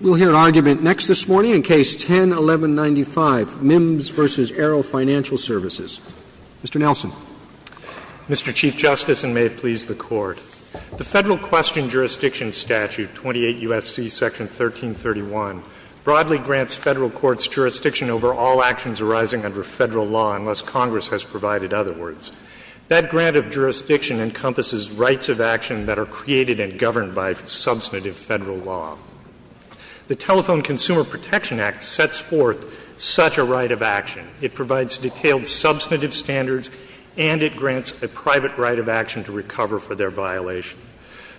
We'll hear an argument next this morning in Case 10-1195, Mims v. Arrow Financial Services. Mr. Nelson. Mr. Chief Justice, and may it please the Court, The Federal Question Jurisdiction Statute, 28 U.S.C. Section 1331, broadly grants Federal courts jurisdiction over all actions arising under Federal law, unless Congress has provided other words. That grant of jurisdiction encompasses rights of action that are created and governed by substantive Federal law. The Telephone Consumer Protection Act sets forth such a right of action. It provides detailed substantive standards, and it grants a private right of action to recover for their violation.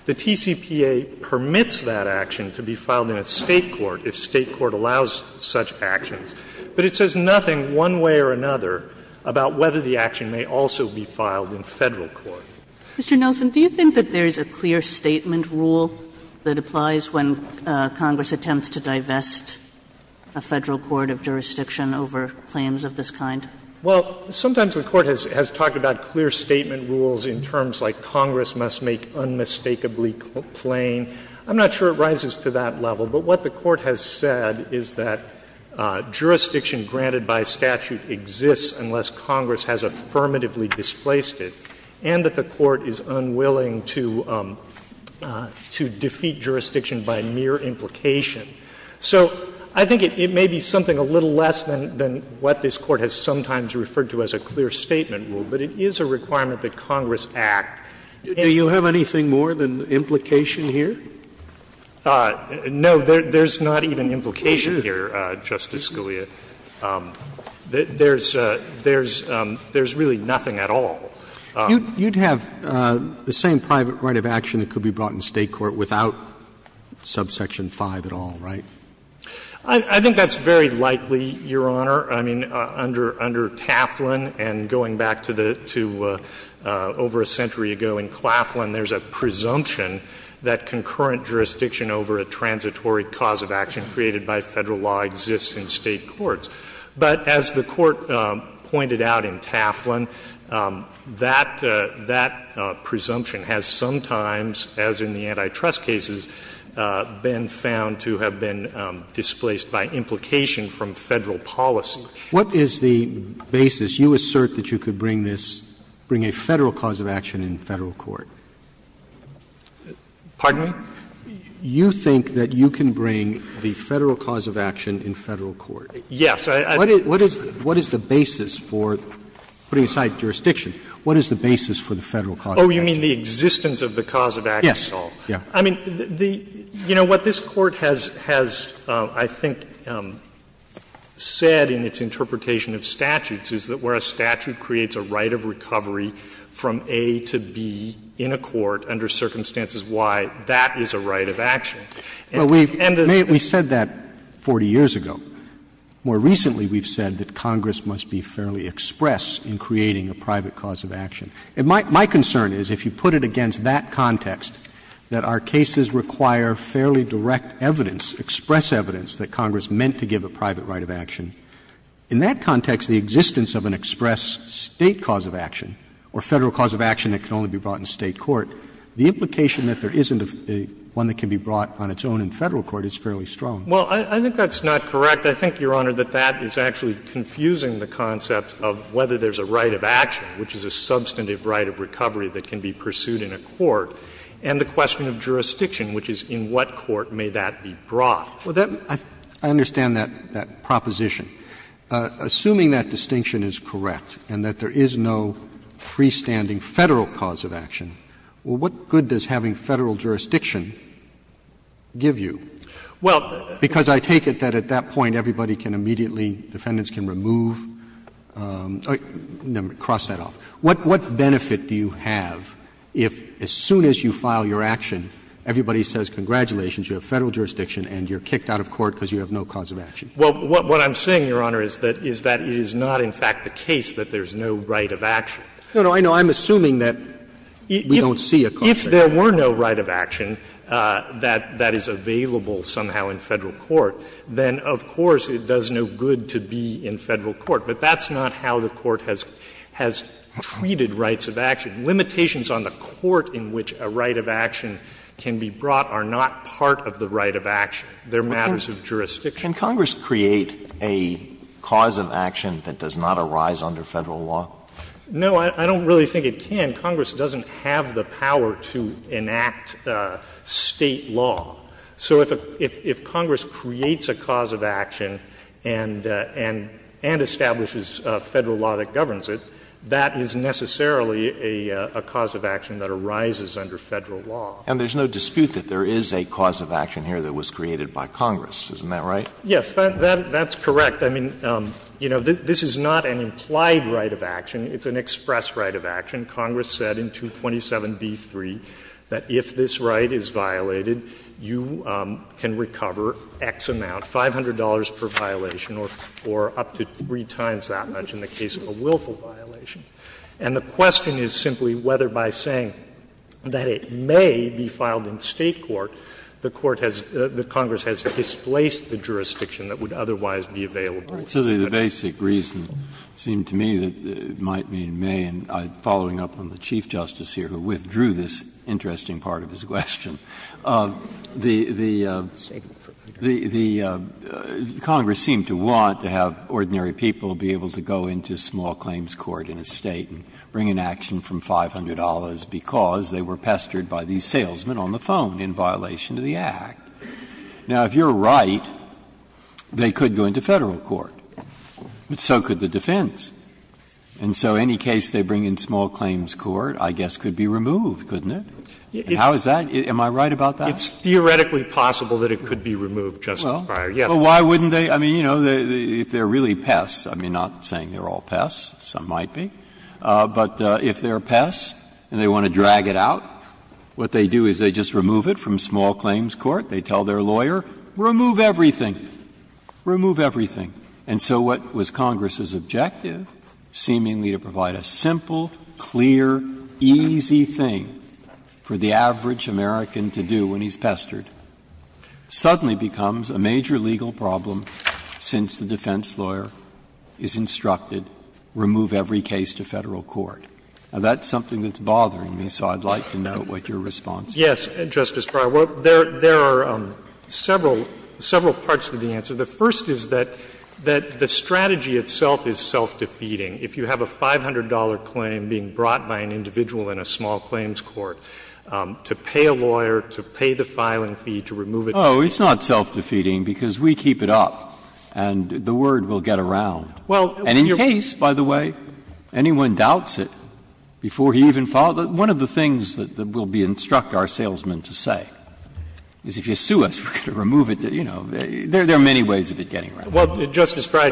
The TCPA permits that action to be filed in a State court if State court allows such actions, but it says nothing one way or another about whether the action may also be filed in Federal court. Mr. Nelson, do you think that there is a clear statement rule that applies when Congress attempts to divest a Federal court of jurisdiction over claims of this kind? Well, sometimes the Court has talked about clear statement rules in terms like Congress must make unmistakably plain. I'm not sure it rises to that level, but what the Court has said is that jurisdiction granted by statute exists unless Congress has affirmatively displaced it, and that the Court is unwilling to defeat jurisdiction by mere implication. So I think it may be something a little less than what this Court has sometimes referred to as a clear statement rule, but it is a requirement that Congress act. Do you have anything more than implication here? No, there's not even implication here, Justice Scalia. There's really nothing at all. You'd have the same private right of action that could be brought in State court without subsection 5 at all, right? I think that's very likely, Your Honor. I mean, under Taflin and going back to over a century ago in Claflin, there's a presumption that concurrent jurisdiction over a transitory cause of action created by Federal law exists in State courts. But as the Court pointed out in Taflin, that presumption has sometimes, as in the antitrust cases, been found to have been displaced by implication from Federal policy. What is the basis? You assert that you could bring this, bring a Federal cause of action in Federal court. Pardon me? You think that you can bring the Federal cause of action in Federal court. Yes. What is the basis for, putting aside jurisdiction, what is the basis for the Federal cause of action? Oh, you mean the existence of the cause of action at all? Yes. I mean, the – you know, what this Court has, I think, said in its interpretation of statutes is that where a statute creates a right of recovery from A to B in a court under circumstances Y, that is a right of action. Well, we've made – we said that 40 years ago. More recently, we've said that Congress must be fairly express in creating a private cause of action. And my concern is, if you put it against that context, that our cases require fairly direct evidence, express evidence, that Congress meant to give a private right of action, in that context, the existence of an express State cause of action or Federal cause of action that can only be brought in State court, the implication that there isn't one that can be brought on its own in Federal court is fairly strong. Well, I think that's not correct. I think, Your Honor, that that is actually confusing the concept of whether there's a right of action, which is a substantive right of recovery that can be pursued in a court, and the question of jurisdiction, which is in what court may that be brought. Well, that – I understand that proposition. Assuming that distinction is correct and that there is no freestanding Federal cause of action, well, what good does having Federal jurisdiction give you? Well, because I take it that at that point, everybody can immediately, defendants can remove – cross that off. What benefit do you have if, as soon as you file your action, everybody says congratulations, you have Federal jurisdiction and you're kicked out of court because you have no cause of action? Well, what I'm saying, Your Honor, is that it is not, in fact, the case that there's no right of action. No, no, I know. I'm assuming that we don't see a cause of action. If there were no right of action that is available somehow in Federal court, then, of course, it does no good to be in Federal court. But that's not how the court has treated rights of action. Limitations on the court in which a right of action can be brought are not part of the right of action. They're matters of jurisdiction. Can Congress create a cause of action that does not arise under Federal law? No, I don't really think it can. Congress doesn't have the power to enact State law. So if Congress creates a cause of action and establishes a Federal law that governs it, that is necessarily a cause of action that arises under Federal law. And there's no dispute that there is a cause of action here that was created by Congress. Isn't that right? Yes, that's correct. I mean, you know, this is not an implied right of action. It's an express right of action. Congress said in 227b3 that if this right is violated, you can recover X amount, $500 per violation, or up to three times that much in the case of a willful violation. And the question is simply whether by saying that it may be filed in State court, the court has the Congress has displaced the jurisdiction that would otherwise be available. So the basic reason seemed to me that it might mean it may, and following up on the Chief Justice here who withdrew this interesting part of his question, the Congress seemed to want to have ordinary people be able to go into small claims court in a State and bring an action from $500 because they were pestered by these salesmen on the phone in violation of the Act. Now, if you're right, they could go into Federal court, but so could the defense. And so any case they bring in small claims court, I guess, could be removed, couldn't it? How is that? Am I right about that? It's theoretically possible that it could be removed, Justice Breyer. Well, why wouldn't they? I mean, you know, if they're really pests, I mean, not saying they're all pests, some might be, but if they're pests and they want to drag it out, what they do is they just remove it from small claims court. They tell their lawyer, remove everything, remove everything. And so what was Congress's objective, seemingly to provide a simple, clear, easy thing for the average American to do when he's pestered, suddenly becomes a major legal problem since the defense lawyer is instructed, remove every case to Federal court. Now, that's something that's bothering me, so I'd like to know what your response is. Yes, Justice Breyer. There are several parts to the answer. The first is that the strategy itself is self-defeating. If you have a $500 claim being brought by an individual in a small claims court, to pay a lawyer, to pay the filing fee, to remove it. Oh, it's not self-defeating because we keep it up and the word will get around. And in your case, by the way, anyone doubts it before he even filed. Well, one of the things that will be instruct our salesman to say is if you sue us, we're going to remove it. You know, there are many ways of it getting around. Well, Justice Breyer,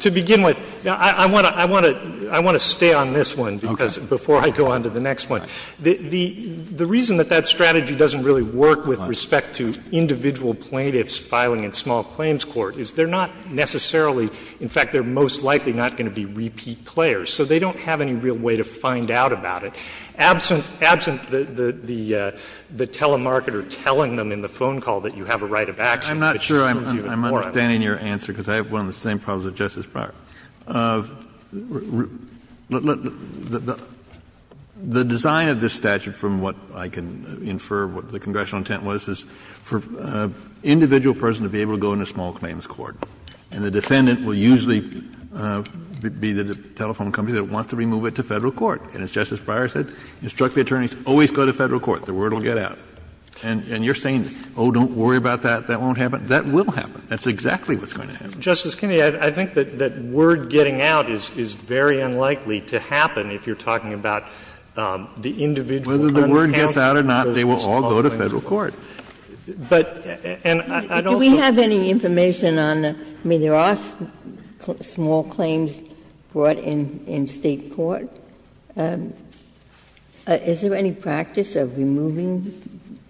to begin with, I want to stay on this one before I go on to the next one. The reason that that strategy doesn't really work with respect to individual plaintiffs filing in small claims court is they're not necessarily, in fact, they're most likely not going to be repeat players. So they don't have any real way to find out about it. Absent the telemarketer telling them in the phone call that you have a right of access, which is even more obvious. Kennedy, I'm not sure I'm understanding your answer, because I have one of the same problems as Justice Breyer. The design of this statute, from what I can infer, what the congressional intent was, is for an individual person to be able to go into small claims court. And the defendant will usually be the telephone company that wants to remove it to Federal court. And as Justice Breyer said, instruct the attorneys, always go to Federal court. The word will get out. And you're saying, oh, don't worry about that, that won't happen. That will happen. That's exactly what's going to happen. Justice Kennedy, I think that word getting out is very unlikely to happen if you're talking about the individual under counsel in those small claims courts. Whether the word gets out or not, they will all go to Federal court. But, and I don't think that's the case. Ginsburg, do we have any information on the – I mean, there are small claims brought in State court. Is there any practice of removing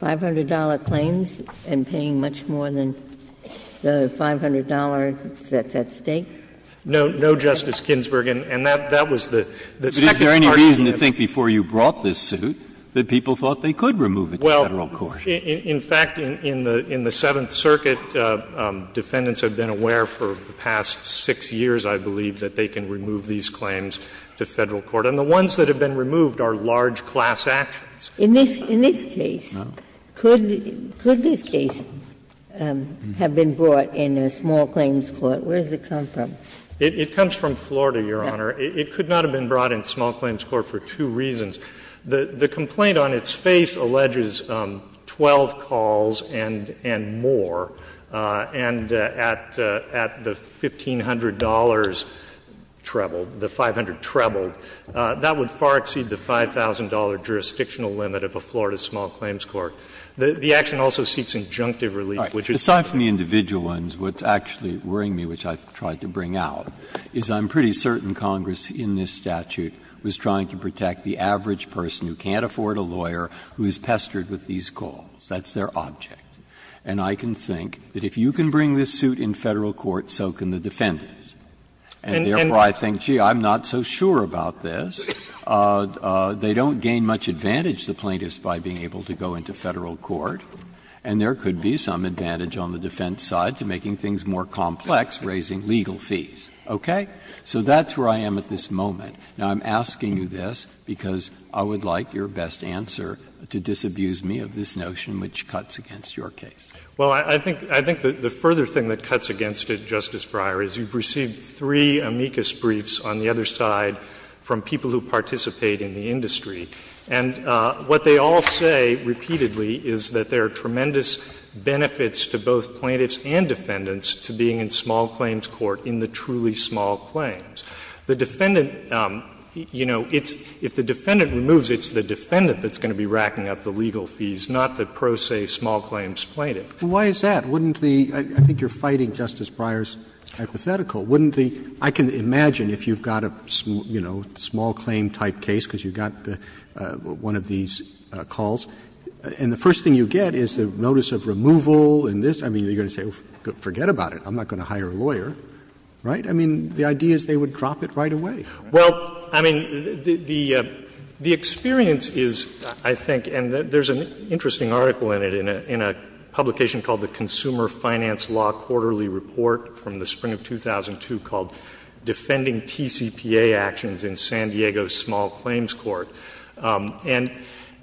$500 claims and paying much more than the $500 that's at stake? No, no, Justice Ginsburg, and that was the second part of the question. Is there any reason to think before you brought this suit that people thought they could remove it to Federal court? In fact, in the Seventh Circuit, defendants have been aware for the past 6 years, I believe, that they can remove these claims to Federal court. And the ones that have been removed are large class actions. In this case, could this case have been brought in a small claims court? Where does it come from? It comes from Florida, Your Honor. It could not have been brought in small claims court for two reasons. The complaint on its face alleges 12 calls and more, and at the $1,500 treble, the 500 treble, that would far exceed the $5,000 jurisdictional limit of a Florida small claims court. The action also seeks injunctive relief, which is not. Breyer, aside from the individual ones, what's actually worrying me, which I've tried to bring out, is I'm pretty certain Congress in this statute was trying to protect the average person who can't afford a lawyer, who is pestered with these calls. That's their object. And I can think that if you can bring this suit in Federal court, so can the defendants. And therefore, I think, gee, I'm not so sure about this. They don't gain much advantage, the plaintiffs, by being able to go into Federal court, and there could be some advantage on the defense side to making things more complex, raising legal fees, okay? So that's where I am at this moment. Now, I'm asking you this because I would like your best answer to disabuse me of this notion which cuts against your case. Well, I think the further thing that cuts against it, Justice Breyer, is you've received three amicus briefs on the other side from people who participate in the industry. And what they all say repeatedly is that there are tremendous benefits to both plaintiffs and defendants to being in small claims court in the truly small claims. The defendant, you know, it's the defendant that's going to be racking up the legal fees, not the pro se small claims plaintiff. Why is that? Wouldn't the – I think you're fighting Justice Breyer's hypothetical. Wouldn't the – I can imagine if you've got a, you know, small claim type case, because you've got one of these calls, and the first thing you get is the notice of removal and this. I mean, you're going to say, forget about it. I'm not going to hire a lawyer, right? I mean, the idea is they would drop it right away. Well, I mean, the experience is, I think, and there's an interesting article in it, in a publication called the Consumer Finance Law Quarterly Report from the spring of 2002 called Defending TCPA Actions in San Diego's Small Claims Court. And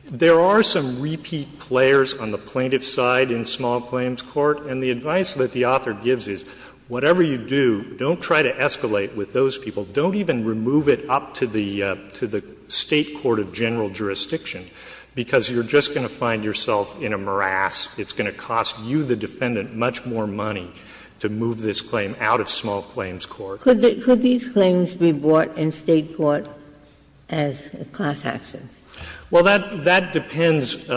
there are some repeat players on the plaintiff's side in small claims court. And the advice that the author gives is, whatever you do, don't try to escalate with those people. Don't even remove it up to the State court of general jurisdiction, because you're just going to find yourself in a morass. It's going to cost you, the defendant, much more money to move this claim out of small claims court. Ginsburg. Could these claims be brought in State court as class actions? Well, that depends,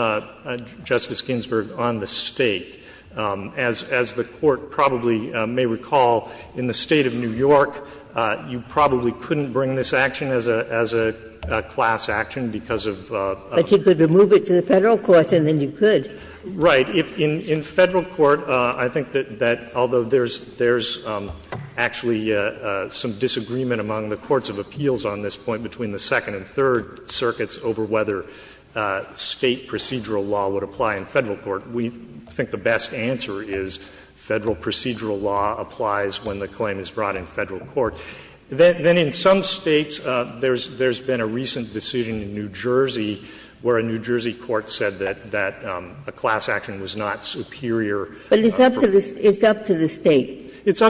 Justice Ginsburg, on the State. As the Court probably may recall, in the State of New York, you probably couldn't bring this action as a class action because of a law. But you could remove it to the Federal court and then you could. Right. In Federal court, I think that although there's actually some disagreement among the courts of appeals on this point between the Second and Third Circuits over whether State procedural law would apply in Federal court, we think the best answer is Federal procedural law applies when the claim is brought in Federal court. Then in some States, there's been a recent decision in New Jersey where a New Jersey court said that a class action was not superior. But it's up to the State. It's up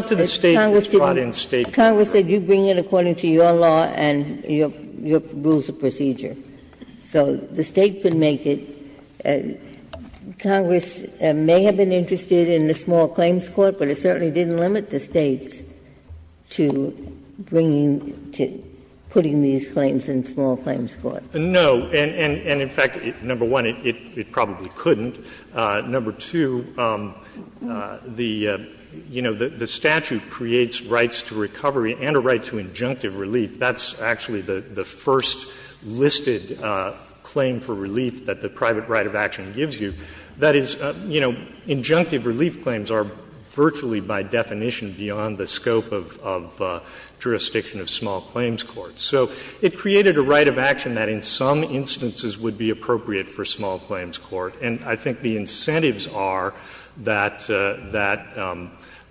to the State. It's brought in State court. But Congress said you bring it according to your law and your rules of procedure. So the State could make it. Congress may have been interested in the small claims court, but it certainly didn't limit the States to bringing to putting these claims in small claims court. No. And in fact, number one, it probably couldn't. Number two, the statute creates rights to recovery and a right to injunctive relief. That's actually the first listed claim for relief that the private right of action gives you. That is, injunctive relief claims are virtually by definition beyond the scope of jurisdiction of small claims court. So it created a right of action that in some instances would be appropriate for small claims court. And I think the incentives are that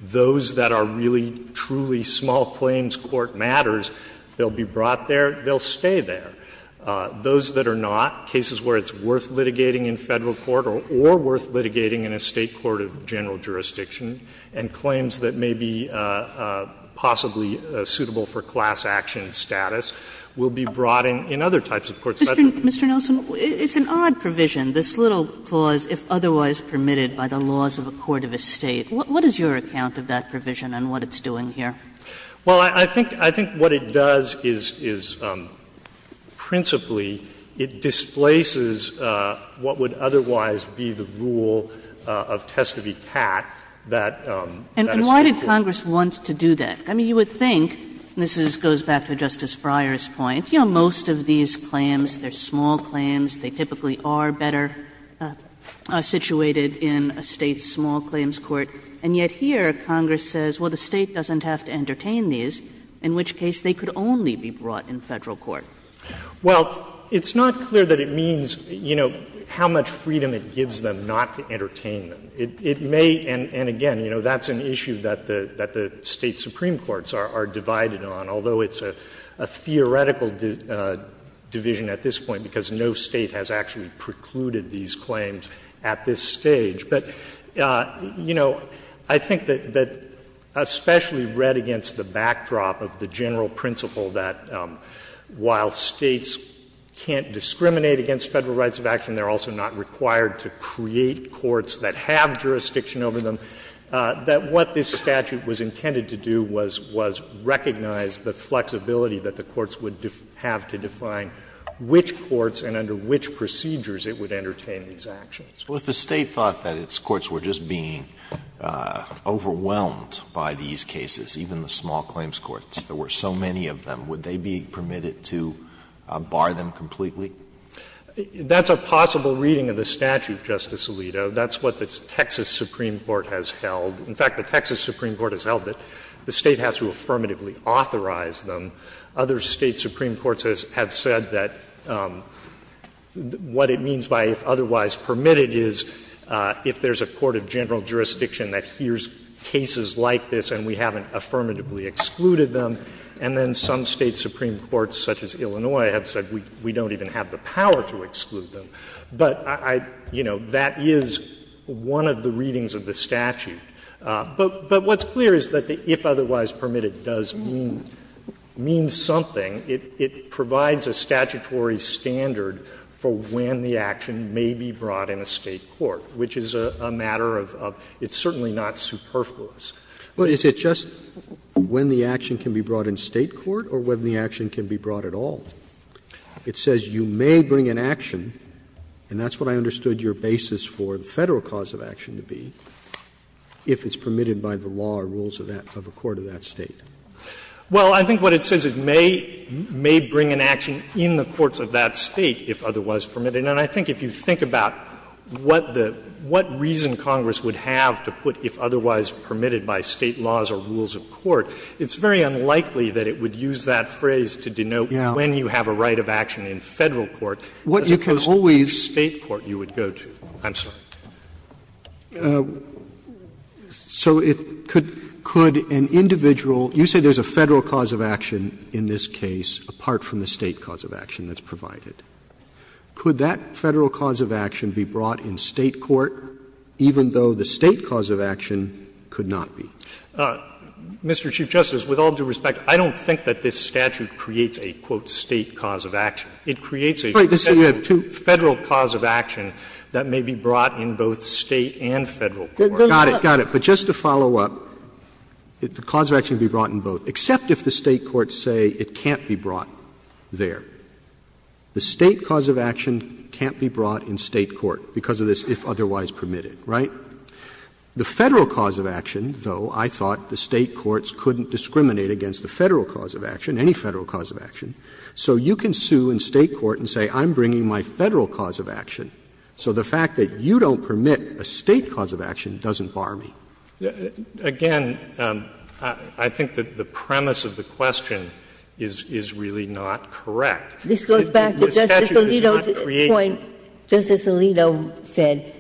those that are really, truly small claims court matters, they'll be brought there, they'll stay there. Those that are not, cases where it's worth litigating in Federal court or worth litigating in a State court of general jurisdiction, and claims that may be possibly suitable for class action status, will be brought in other types of courts. Kagan Mr. Nelson, it's an odd provision, this little clause, if otherwise permitted by the laws of a court of a State. What is your account of that provision and what it's doing here? Nelson Well, I think what it does is principally it displaces what would otherwise be the rule of test of the cat that a State court would. Kagan And why did Congress want to do that? I mean, you would think, and this goes back to Justice Breyer's point, you know, most of these claims, they're small claims, they typically are better situated in a State's small claims court, and yet here Congress says, well, the State doesn't have to entertain these, in which case they could only be brought in Federal court. Nelson Well, it's not clear that it means, you know, how much freedom it gives them not to entertain them. It may, and again, you know, that's an issue that the State supreme courts are divided on, although it's a theoretical division at this point, because no State has actually precluded these claims at this stage. But, you know, I think that especially read against the backdrop of the general principle that while States can't discriminate against Federal rights of action, they're also not required to create courts that have jurisdiction over them, that what this statute was intended to do was recognize the flexibility that the courts would have to define which courts and under which procedures it would entertain these actions. Alito Well, if the State thought that its courts were just being overwhelmed by these cases, even the small claims courts, there were so many of them, would they be permitted to bar them completely? Nelson That's a possible reading of the statute, Justice Alito. That's what the Texas supreme court has held. In fact, the Texas supreme court has held that the State has to affirmatively authorize them. Other State supreme courts have said that what it means by if otherwise permitted is if there's a court of general jurisdiction that hears cases like this and we haven't said we don't even have the power to exclude them, but I, you know, that is one of the readings of the statute. But what's clear is that the if otherwise permitted does mean something. It provides a statutory standard for when the action may be brought in a State court, which is a matter of — it's certainly not superfluous. Roberts Well, is it just when the action can be brought in State court or when the action can be brought at all? It says you may bring an action, and that's what I understood your basis for the Federal cause of action to be, if it's permitted by the law or rules of that — of a court of that State. Nelson Well, I think what it says, it may bring an action in the courts of that State if otherwise permitted. And I think if you think about what the — what reason Congress would have to put if otherwise permitted by State laws or rules of court, it's very unlikely that it would use that phrase to denote when you have a right of action in Federal court as opposed to which State court you would go to. I'm sorry. Roberts So it could — could an individual — you say there's a Federal cause of action in this case apart from the State cause of action that's provided. Could that Federal cause of action be brought in State court even though the State cause of action could not be? Nelson Mr. Chief Justice, with all due respect, I don't think that this statute creates a, quote, State cause of action. It creates a Federal cause of action that may be brought in both State and Federal court. Roberts Got it, got it. But just to follow up, the cause of action can be brought in both, except if the State court say it can't be brought there. The State cause of action can't be brought in State court because of this if otherwise permitted, right? The Federal cause of action, though, I thought the State courts couldn't discriminate against the Federal cause of action, any Federal cause of action. So you can sue in State court and say I'm bringing my Federal cause of action, so the fact that you don't permit a State cause of action doesn't bar me. Nelson Again, I think that the premise of the question is really not correct. This statute does not create a Federal cause of action.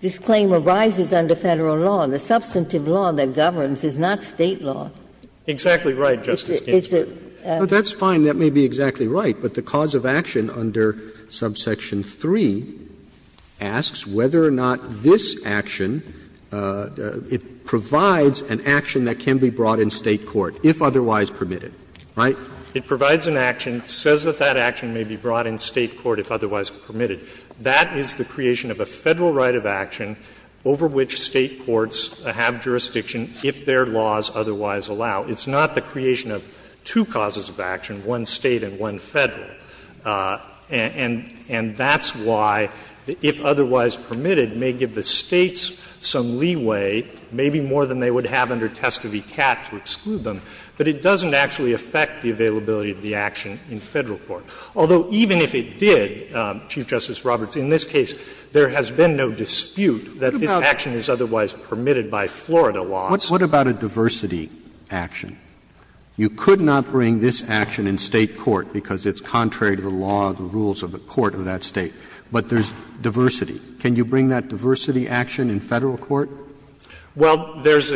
But it arises under Federal law, and the substantive law that governs is not State law. Roberts Exactly right, Justice Ginsburg. Roberts That's fine. That may be exactly right. But the cause of action under subsection 3 asks whether or not this action, it provides an action that can be brought in State court if otherwise permitted, right? Nelson It provides an action, says that that action may be brought in State court if otherwise permitted. That is the creation of a Federal right of action over which State courts have jurisdiction if their laws otherwise allow. It's not the creation of two causes of action, one State and one Federal. And that's why the if otherwise permitted may give the States some leeway, maybe more than they would have under test of ECAT to exclude them, but it doesn't actually affect the availability of the action in Federal court. Although even if it did, Chief Justice Roberts, in this case, there has been no dispute that this action is otherwise permitted by Florida laws. Roberts What about a diversity action? You could not bring this action in State court because it's contrary to the law, the rules of the court of that State. But there's diversity. Can you bring that diversity action in Federal court? Nelson Well, there's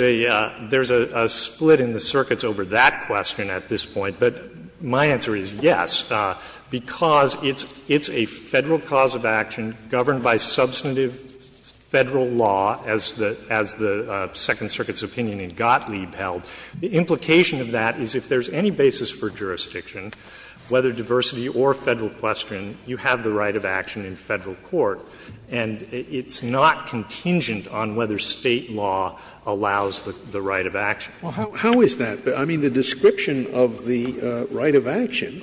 a split in the circuits over that question at this point. But my answer is yes. Because it's a Federal cause of action governed by substantive Federal law, as the Second Circuit's opinion in Gottlieb held. The implication of that is if there's any basis for jurisdiction, whether diversity or Federal question, you have the right of action in Federal court. And it's not contingent on whether State law allows the right of action. Scalia Well, how is that? I mean, the description of the right of action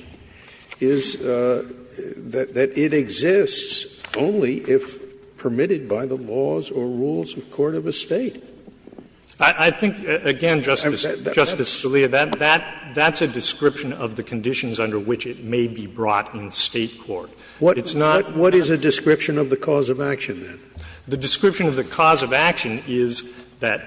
is that it exists only if permitted by the laws or rules of court of a State. Nelson I think, again, Justice Scalia, that's a description of the conditions under which it may be brought in State court. It's not the case of the State court. Scalia What is a description of the cause of action, then? Nelson The description of the cause of action is that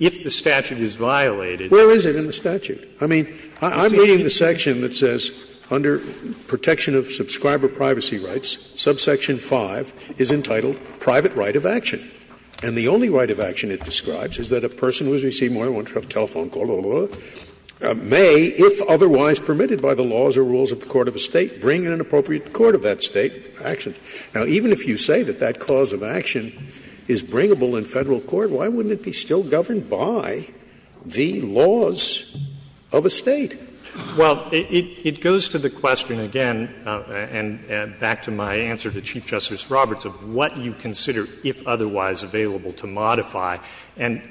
if the statute is violated, Scalia Where is it in the statute? I mean, I'm reading the section that says under protection of subscriber privacy rights, subsection 5 is entitled private right of action. And the only right of action it describes is that a person who has received more than one telephone call, blah, blah, blah, may, if otherwise permitted by the laws or rules of the court of a State, bring in an appropriate court of that State action. Now, even if you say that that cause of action is bringable in Federal court, why wouldn't it be still governed by the laws of a State? Nelson Well, it goes to the question, again, and back to my answer to Chief Justice Roberts, of what you consider, if otherwise available, to modify. And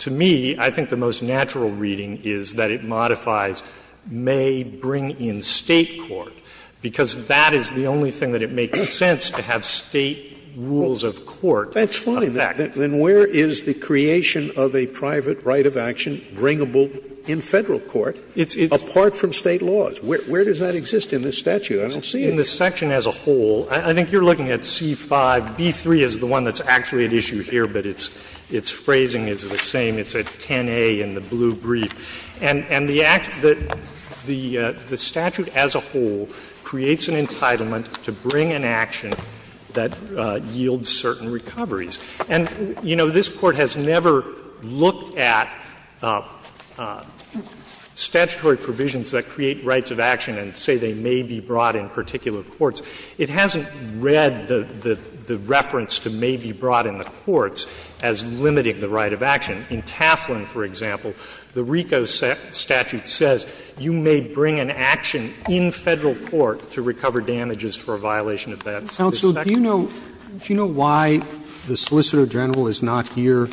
to me, I think the most natural reading is that it modifies may bring in State court, because that is the only thing that it makes sense to have State rules of court of that. Scalia Then where is the creation of a private right of action bringable in Federal court, apart from State laws? Where does that exist in this statute? I don't see it. Nelson In the section as a whole, I think you're looking at C-5. B-3 is the one that's actually at issue here, but its phrasing is the same. It's a 10A in the blue brief. And the act that the statute as a whole creates an entitlement to bring an action that yields certain recoveries. And, you know, this Court has never looked at statutory provisions that create rights of action and say they may be brought in particular courts. It hasn't read the reference to may be brought in the courts as limiting the right of action. In Taflin, for example, the RICO statute says you may bring an action in Federal court to recover damages for a violation of that statute. Roberts So do you know why the Solicitor General is not here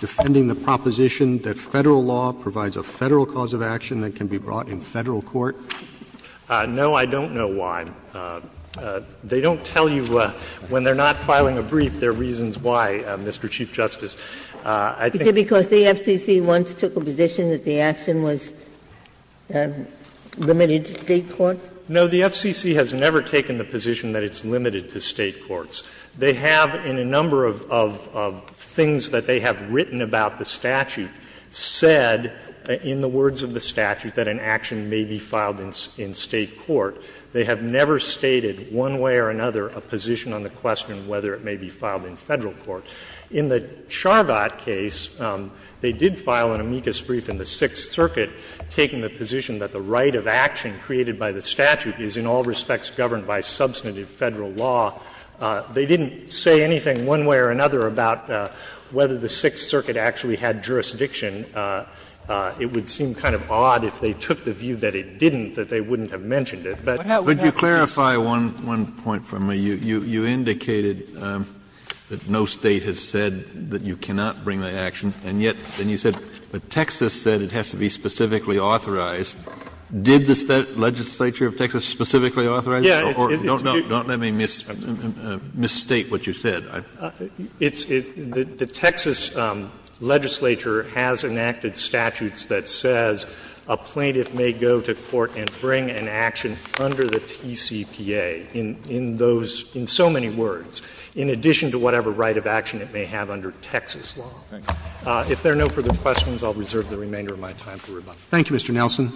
defending the proposition that Federal law provides a Federal cause of action that can be brought in Federal court? Nelson No, I don't know why. They don't tell you when they're not filing a brief their reasons why, Mr. Chief Justice. I think Ginsburg Is it because the FCC once took a position that the action was limited to State courts? Nelson No, the FCC has never taken the position that it's limited to State courts. They have, in a number of things that they have written about the statute, said in the words of the statute that an action may be filed in State court. They have never stated, one way or another, a position on the question of whether it may be filed in Federal court. In the Charvat case, they did file an amicus brief in the Sixth Circuit, taking the position that the right of action created by the statute is, in all respects, governed by substantive Federal law. They didn't say anything, one way or another, about whether the Sixth Circuit actually had jurisdiction. It would seem kind of odd if they took the view that it didn't, that they wouldn't have mentioned it. But that would not be the case. Kennedy Would you clarify one point for me? You indicated that no State has said that you cannot bring the action, and yet, then you said, but Texas said it has to be specifically authorized. Did the legislature of Texas specifically authorize it? Or don't let me misstate what you said. Gershengorn It's the Texas legislature has enacted statutes that says a plaintiff may go to court and bring an action under the TCPA in those, in so many words, in addition to whatever right of action it may have under Texas law. If there are no further questions, I'll reserve the remainder of my time for rebuttal. Roberts Thank you, Mr. Nelson.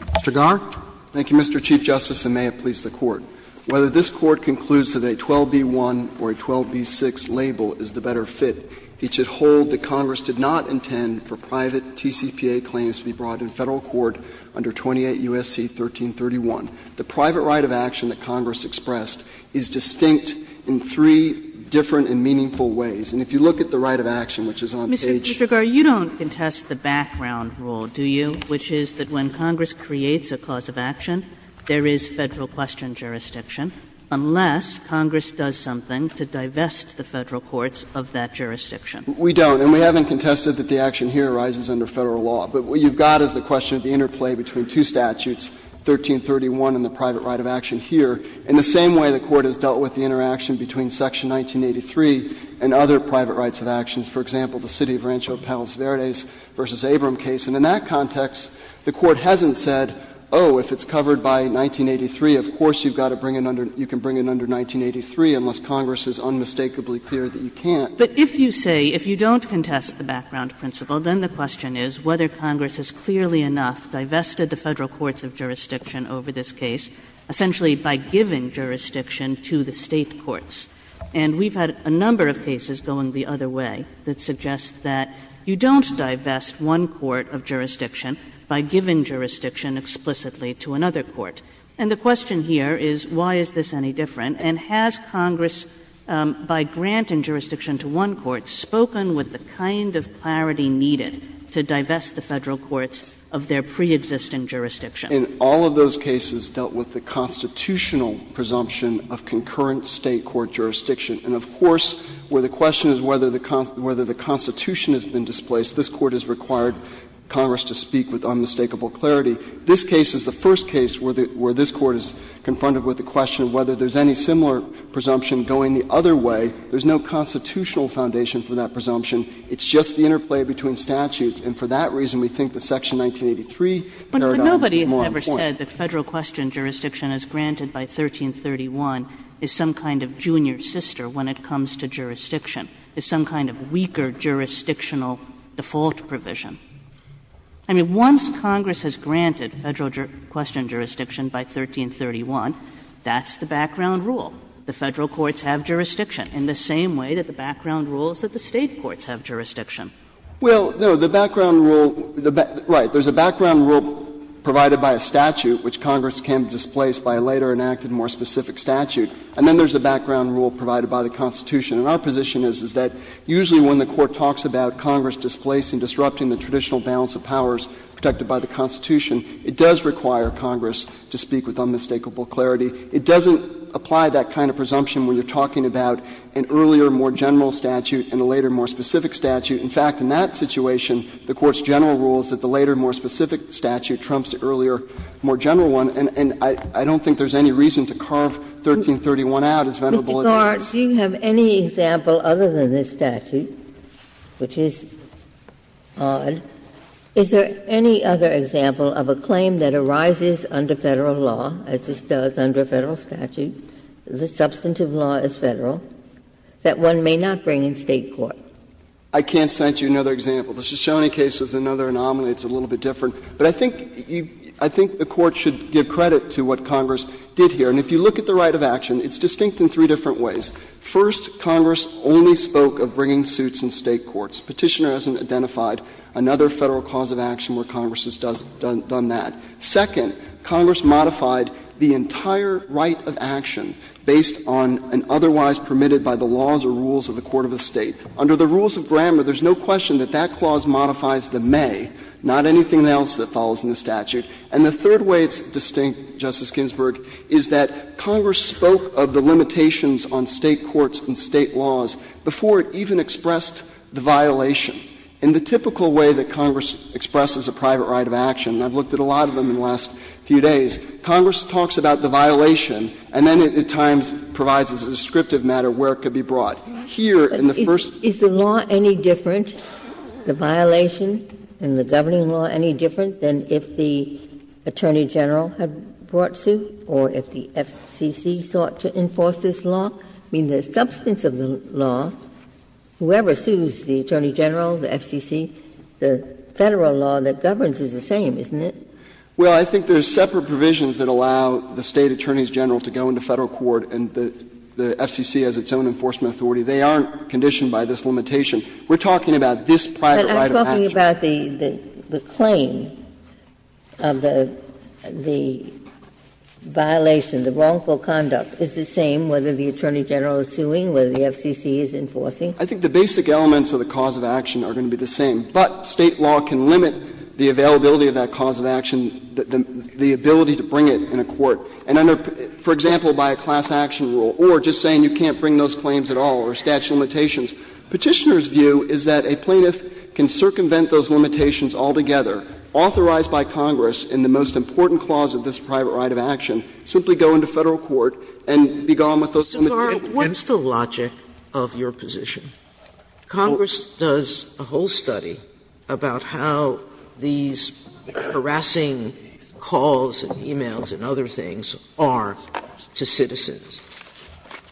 Mr. Garre? Garre Thank you, Mr. Chief Justice, and may it please the Court. Whether this Court concludes that a 12b-1 or a 12b-6 label is the better fit, it should hold that Congress did not intend for private TCPA claims to be brought in Federal court under 28 U.S.C. 1331. The private right of action that Congress expressed is distinct in three different and meaningful ways. And if you look at the right of action, which is on page 133. Kagan Mr. Garre, you don't contest the background rule, do you, which is that when Congress creates a cause of action, there is Federal question jurisdiction, unless Congress does something to divest the Federal courts of that jurisdiction. Garre We don't. And we haven't contested that the action here arises under Federal law. But what you've got is the question of the interplay between two statutes, 1331 and the private right of action here. In the same way the Court has dealt with the interaction between section 1983 and other private rights of actions. For example, the city of Rancho Palos Verdes v. Abram case. And in that context, the Court hasn't said, oh, if it's covered by 1983, of course you've got to bring it under, you can bring it under 1983, unless Congress is unmistakably clear that you can't. Kagan But if you say, if you don't contest the background principle, then the question is whether Congress has clearly enough divested the Federal courts of jurisdiction over this case, essentially by giving jurisdiction to the State courts. And we've had a number of cases going the other way that suggest that you don't divest one court of jurisdiction by giving jurisdiction explicitly to another court. And the question here is, why is this any different? And has Congress, by granting jurisdiction to one court, spoken with the kind of clarity needed to divest the Federal courts of their preexisting jurisdiction? In all of those cases dealt with the constitutional presumption of concurrent State court jurisdiction. And of course, where the question is whether the Constitution has been displaced, this Court has required Congress to speak with unmistakable clarity. This case is the first case where this Court is confronted with the question of whether there's any similar presumption going the other way. There's no constitutional foundation for that presumption. It's just the interplay between statutes. And for that reason, we think the section 1983 paradigm is more appropriate. Kagan. Kagan. But nobody ever said that Federal question jurisdiction as granted by 1331 is some kind of junior sister when it comes to jurisdiction, is some kind of weaker jurisdictional default provision. I mean, once Congress has granted Federal question jurisdiction by 1331, that's the background rule. The Federal courts have jurisdiction, in the same way that the background rule is that the State courts have jurisdiction. Well, no. The background rule, right, there's a background rule provided by a statute, which Congress can displace by a later enacted, more specific statute, and then there's a background rule provided by the Constitution. And our position is, is that usually when the Court talks about Congress displacing, disrupting the traditional balance of powers protected by the Constitution, it does require Congress to speak with unmistakable clarity. It doesn't apply that kind of presumption when you're talking about an earlier, more general statute and a later, more specific statute. In fact, in that situation, the Court's general rule is that the later, more specific statute trumps the earlier, more general one, and I don't think there's any reason to carve 1331 out as venerable as that is. Ginsburg. Ginsburg. Do you have any example other than this statute, which is odd, is there any other example of a claim that arises under Federal law, as this does under Federal statute, the substantive law is Federal, that one may not bring in State court? I can't cite you another example. The Shoshone case was another anomaly. It's a little bit different. But I think you — I think the Court should give credit to what Congress did here. And if you look at the right of action, it's distinct in three different ways. First, Congress only spoke of bringing suits in State courts. Petitioner hasn't identified another Federal cause of action where Congress has done that. Second, Congress modified the entire right of action based on an otherwise permitted by the laws or rules of the court of the State. Under the rules of grammar, there's no question that that clause modifies the may, not anything else that follows in the statute. And the third way it's distinct, Justice Ginsburg, is that Congress spoke of the limitations on State courts and State laws before it even expressed the violation. In the typical way that Congress expresses a private right of action, and I've looked at a lot of them in the last few days, Congress talks about the violation and then at times provides as a descriptive matter where it could be brought. Here, in the first — Ginsburg. Is the law any different, the violation in the governing law any different than if the Attorney General had brought suit or if the FCC sought to enforce this law? I mean, the substance of the law, whoever sues the Attorney General, the FCC, the Federal law that governs is the same, isn't it? Well, I think there's separate provisions that allow the State attorneys general to go into Federal court and the FCC has its own enforcement authority. They aren't conditioned by this limitation. We're talking about this private right of action. But I'm talking about the claim of the violation, the wrongful conduct. Is it the same whether the Attorney General is suing, whether the FCC is enforcing? I think the basic elements of the cause of action are going to be the same. But State law can limit the availability of that cause of action, the ability to bring it in a court. And under, for example, by a class action rule or just saying you can't bring those claims at all or statute of limitations, Petitioner's view is that a plaintiff can circumvent those limitations altogether, authorized by Congress in the most important clause of this private right of action, simply go into Federal court and be gone with those limitations. Sotomayor, what's the logic of your position? Congress does a whole study about how these harassing calls and e-mails and other things are to citizens.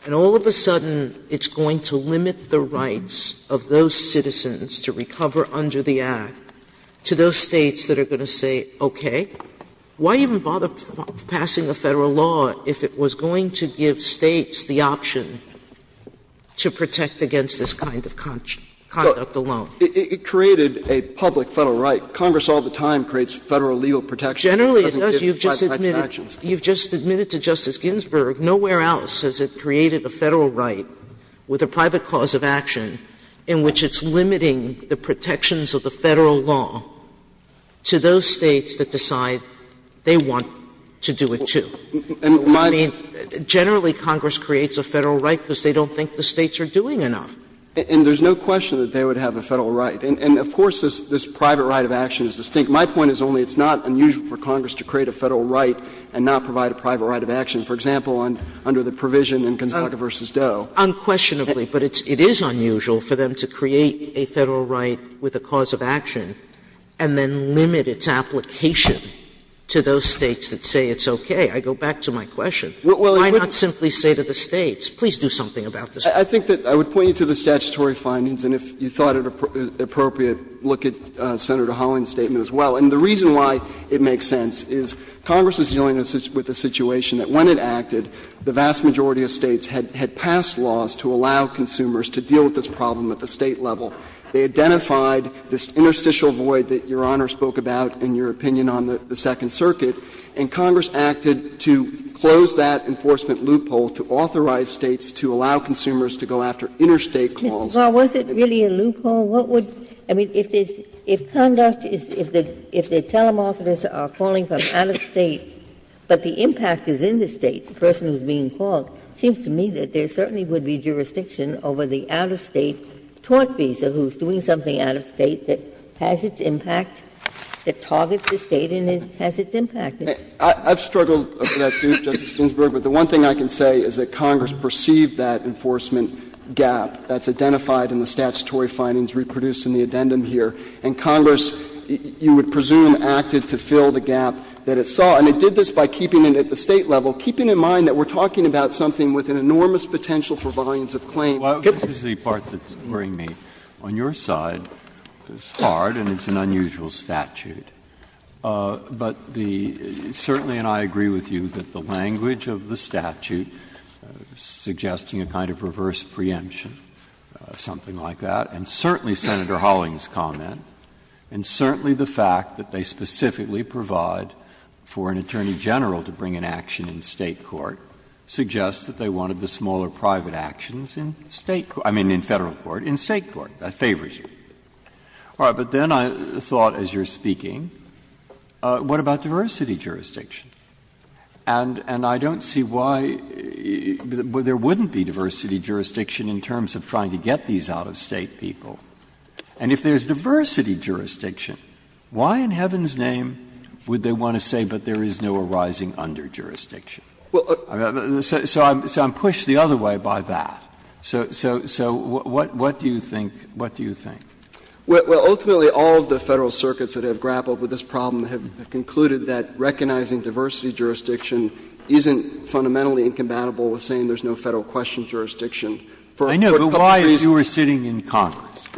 And all of a sudden it's going to limit the rights of those citizens to recover under the Act to those States that are going to say, okay, why even bother passing a Federal law if it was going to give States the option to protect against this kind of conduct alone? It created a public Federal right. Congress all the time creates Federal legal protections. Generally it does. You've just admitted it. You've just admitted to Justice Ginsburg, nowhere else has it created a Federal right with a private clause of action in which it's limiting the protections of the Federal law to those States that decide they want to do it, too. I mean, generally Congress creates a Federal right because they don't think the States are doing enough. And there's no question that they would have a Federal right. And of course this private right of action is distinct. My point is only it's not unusual for Congress to create a Federal right and not provide a private right of action. For example, under the provision in Gonzaga v. Doe. Sotomayor, Unquestionably, but it is unusual for them to create a Federal right with a clause of action and then limit its application to those States that say it's okay. I go back to my question. Why not simply say to the States, please do something about this? I think that I would point you to the statutory findings, and if you thought it appropriate, look at Senator Holland's statement as well. And the reason why it makes sense is Congress is dealing with a situation that when it acted, the vast majority of States had passed laws to allow consumers to deal with this problem at the State level. They identified this interstitial void that Your Honor spoke about in your opinion on the Second Circuit, and Congress acted to close that enforcement loophole to authorize States to allow consumers to go after interstate clauses. Ginsburg, was it really a loophole? What would — I mean, if conduct is — if the telemorphists are calling from out-of-State, but the impact is in the State, the person who is being called, it seems to me that there certainly would be jurisdiction over the out-of-State tort visa who is doing something out-of-State that has its impact, that targets the State and has its impact. I've struggled with that, too, Justice Ginsburg, but the one thing I can say is that the Statutory findings reproduced in the addendum here, and Congress, you would presume, acted to fill the gap that it saw. And it did this by keeping it at the State level, keeping in mind that we're talking about something with an enormous potential for volumes of claim. Breyer, on your side, it's hard and it's an unusual statute, but the — certainly, and I agree with you, that the language of the statute suggesting a kind of reverse preemption, something like that, and certainly Senator Holling's comment, and certainly the fact that they specifically provide for an attorney general to bring an action in State court, suggests that they wanted the smaller private actions in State court — I mean in Federal court, in State court. That favors you. All right. But then I thought, as you're speaking, what about diversity jurisdiction? And I don't see why there wouldn't be diversity jurisdiction in terms of trying to get these out-of-State people. And if there's diversity jurisdiction, why in heaven's name would they want to say that there is no arising under jurisdiction? So I'm pushed the other way by that. So what do you think? What do you think? Well, ultimately, all of the Federal circuits that have grappled with this problem have concluded that recognizing diversity jurisdiction isn't fundamentally incompatible with saying there's no Federal question jurisdiction. For a couple of reasons. Breyer, you were sitting in Congress,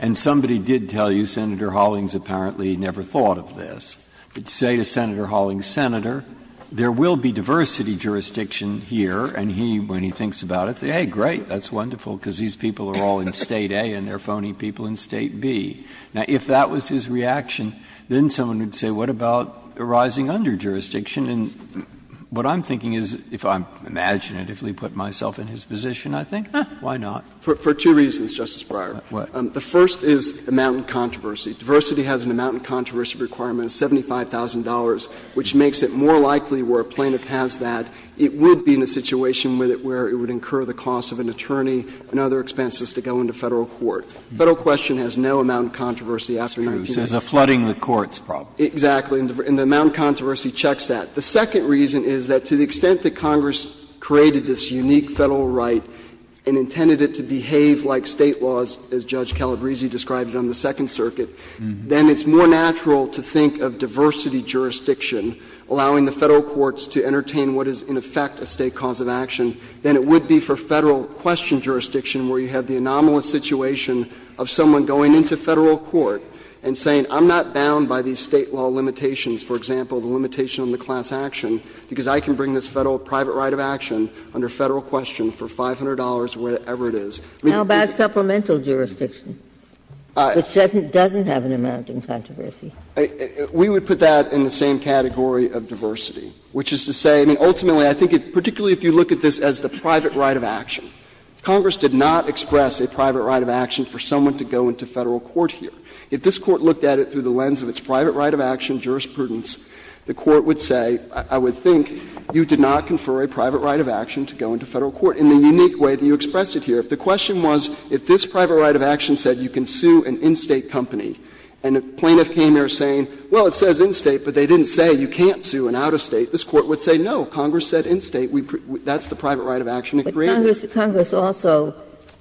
and somebody did tell you, Senator Hollings apparently never thought of this. But you say to Senator Hollings, Senator, there will be diversity jurisdiction here, and he, when he thinks about it, says, hey, great, that's wonderful, because these people are all in State A and they're phony people in State B. Now, if that was his reaction, then someone would say, what about arising under jurisdiction? And what I'm thinking is, if I imaginatively put myself in his position, I think, why not? For two reasons, Justice Breyer. What? The first is amount in controversy. Diversity has an amount in controversy requirement of $75,000, which makes it more likely where a plaintiff has that, it would be in a situation with it where it would incur the cost of an attorney and other expenses to go into Federal court. Federal question has no amount in controversy after 1986. Breyer, so it's a flooding the courts problem. Exactly. And the amount in controversy checks that. The second reason is that to the extent that Congress created this unique Federal right and intended it to behave like State laws, as Judge Calabresi described it on the Second Circuit, then it's more natural to think of diversity jurisdiction allowing the Federal courts to entertain what is in effect a State cause of action than it would be for Federal question jurisdiction where you have the anomalous situation of someone going into Federal court and saying, I'm not bound by these State law limitations, for example, the limitation on the class action, because I can bring this Federal private right of action under Federal question for $500 or whatever it is. How about supplemental jurisdiction, which doesn't have an amount in controversy? We would put that in the same category of diversity, which is to say, I mean, ultimately I think particularly if you look at this as the private right of action, Congress did not express a private right of action for someone to go into Federal court here. If this Court looked at it through the lens of its private right of action jurisprudence, the Court would say, I would think you did not confer a private right of action to go into Federal court in the unique way that you expressed it here. If the question was, if this private right of action said you can sue an in-State company, and a plaintiff came here saying, well, it says in-State, but they didn't say you can't sue an out-of-State, this Court would say, no, Congress said in-State, that's the private right of action agreement. Ginsburg-Miller, Congress also,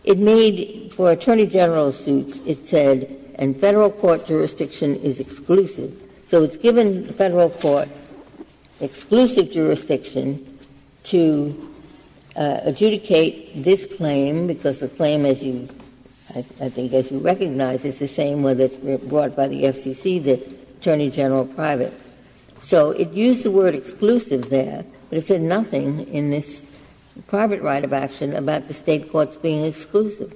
it made for attorney general suits, it said, and Federal court jurisdiction is exclusive. So it's given Federal court exclusive jurisdiction to adjudicate this claim, because the claim, as you, I think, as you recognize, is the same whether it's brought by the FCC, the attorney general private. So it used the word exclusive there, but it said nothing in this private right of action about the State courts being exclusive.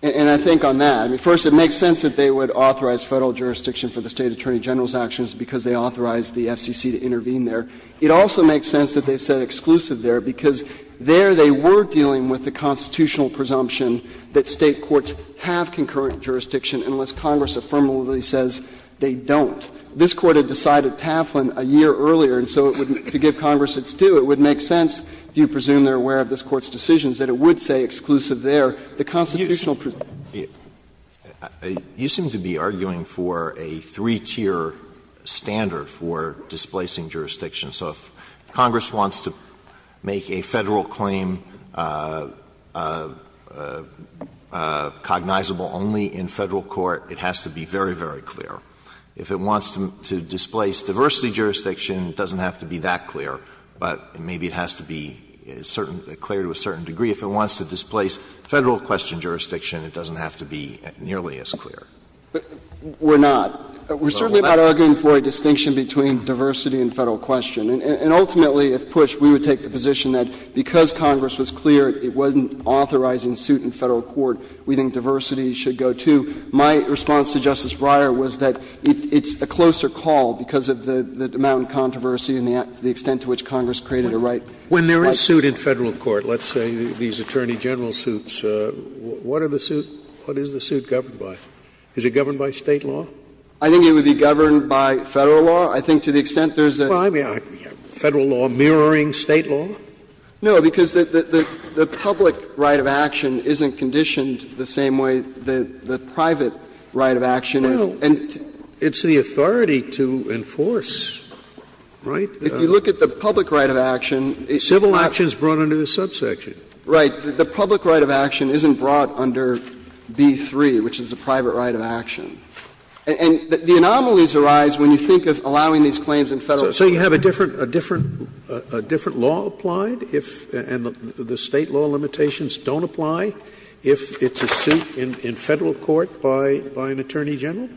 And I think on that, I mean, first, it makes sense that they would authorize Federal jurisdiction for the State attorney general's actions because they authorized the FCC to intervene there. It also makes sense that they said exclusive there, because there they were dealing with the constitutional presumption that State courts have concurrent jurisdiction unless Congress affirmatively says they don't. This Court had decided Taflin a year earlier, and so to give Congress its due, it would make sense, if you presume they're aware of this Court's decisions, that it would say exclusive there, the constitutional presumption. Alito, you seem to be arguing for a three-tier standard for displacing jurisdiction. So if Congress wants to make a Federal claim cognizable only in Federal court, it has to be very, very clear. If it wants to displace diversity jurisdiction, it doesn't have to be that clear. But maybe it has to be certain — clear to a certain degree. If it wants to displace Federal question jurisdiction, it doesn't have to be nearly as clear. We're not. We're certainly not arguing for a distinction between diversity and Federal question. And ultimately, if pushed, we would take the position that because Congress was clear it wasn't authorizing suit in Federal court, we think diversity should go, too. My response to Justice Breyer was that it's a closer call because of the amount of controversy and the extent to which Congress created a right. Scalia. When there is suit in Federal court, let's say these attorney general suits, what are the suit — what is the suit governed by? Is it governed by State law? I think it would be governed by Federal law. I think to the extent there's a — Well, I mean, Federal law mirroring State law? No, because the public right of action isn't conditioned the same way the private right of action is. And it's the authority to enforce, right? If you look at the public right of action, it's not — Civil action is brought under the subsection. Right. The public right of action isn't brought under B-3, which is the private right of action. And the anomalies arise when you think of allowing these claims in Federal court. So you have a different law applied if — and the State law limitations don't apply if it's a suit in Federal court by an attorney general?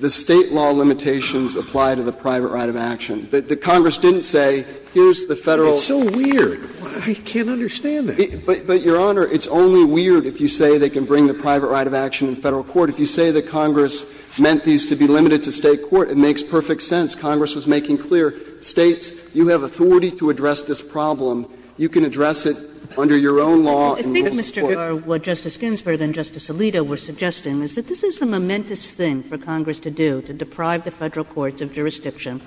The State law limitations apply to the private right of action. The Congress didn't say, here's the Federal law. It's so weird. I can't understand that. But, Your Honor, it's only weird if you say they can bring the private right of action in Federal court. If you say that Congress meant these to be limited to State court, it makes perfect sense. Congress was making clear, States, you have authority to address this problem. You can address it under your own law and rules of court. Kagan. I think, Mr. Garre, what Justice Ginsburg and Justice Alito were suggesting is that this is a momentous thing for Congress to do, to deprive the Federal courts of jurisdiction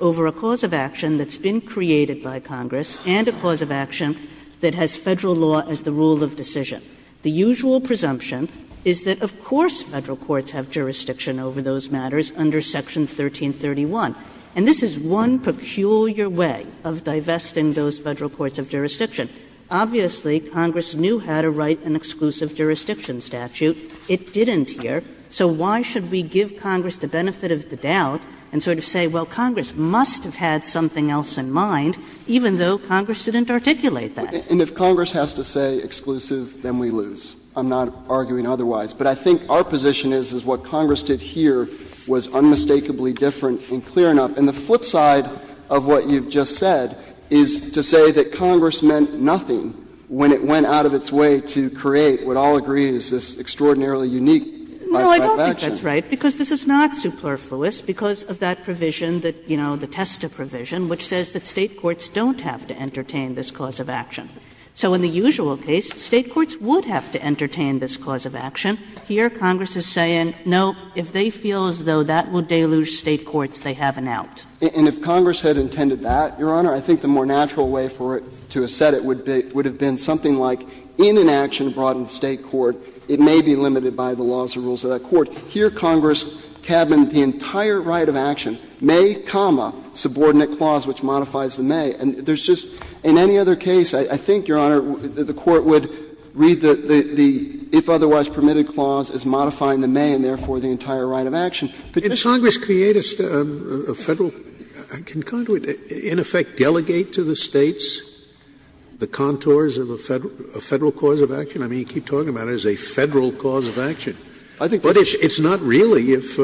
over a cause of action that's been created by Congress and a cause of action that has Federal law as the rule of decision. The usual presumption is that, of course, Federal courts have jurisdiction over those matters under Section 1331. And this is one peculiar way of divesting those Federal courts of jurisdiction. Obviously, Congress knew how to write an exclusive jurisdiction statute. It didn't here. So why should we give Congress the benefit of the doubt and sort of say, well, Congress must have had something else in mind, even though Congress didn't articulate that? Garre, And if Congress has to say exclusive, then we lose. I'm not arguing otherwise. But I think our position is, is what Congress did here was unmistakably different in clearing up. And the flip side of what you have just said is to say that Congress meant nothing when it went out of its way to create what all agree is this extraordinarily unique byte of action. Kagan Well, I don't think that's right, because this is not superfluous. Because of that provision that, you know, the Testa provision, which says that State courts don't have to entertain this cause of action. So in the usual case, State courts would have to entertain this cause of action. Here Congress is saying, no, if they feel as though that will deluge State courts, they have an out. Phillips And if Congress had intended that, Your Honor, I think the more natural way for it to have said it would have been something like in an action brought in the State court, it may be limited by the laws and rules of that court. Here Congress cabined the entire right of action, may, comma, subordinate clause, which modifies the may. And there's just, in any other case, I think, Your Honor, the Court would read the if otherwise permitted clause as modifying the may and therefore the entire right of action. Scalia Can Congress create a Federal can Congress, in effect, delegate to the States the contours of a Federal cause of action? I mean, you keep talking about it as a Federal cause of action. But it's not really, if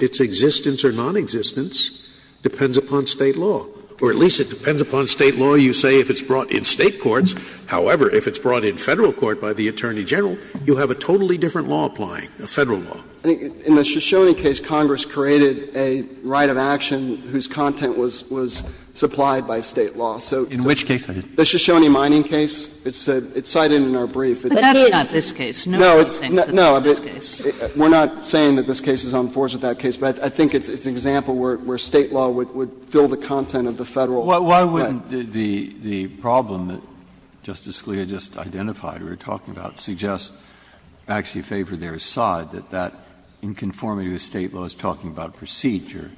its existence or nonexistence depends upon State law, or at least it depends upon State law, you say, if it's brought in State courts. However, if it's brought in Federal court by the Attorney General, you have a totally different law applying, a Federal law. In the Shoshone case, Congress created a right of action whose content was supplied by State law. So the Shoshone mining case, it's cited in our brief. Kagan But that's not this case. No one thinks that's this case. Scalia No, we're not saying that this case is on force with that case. But I think it's an example where State law would fill the content of the Federal Breyer Why wouldn't the problem that Justice Scalia just identified, or we were talking about, suggest, actually favor their side, that that inconformity with State law is talking about procedure?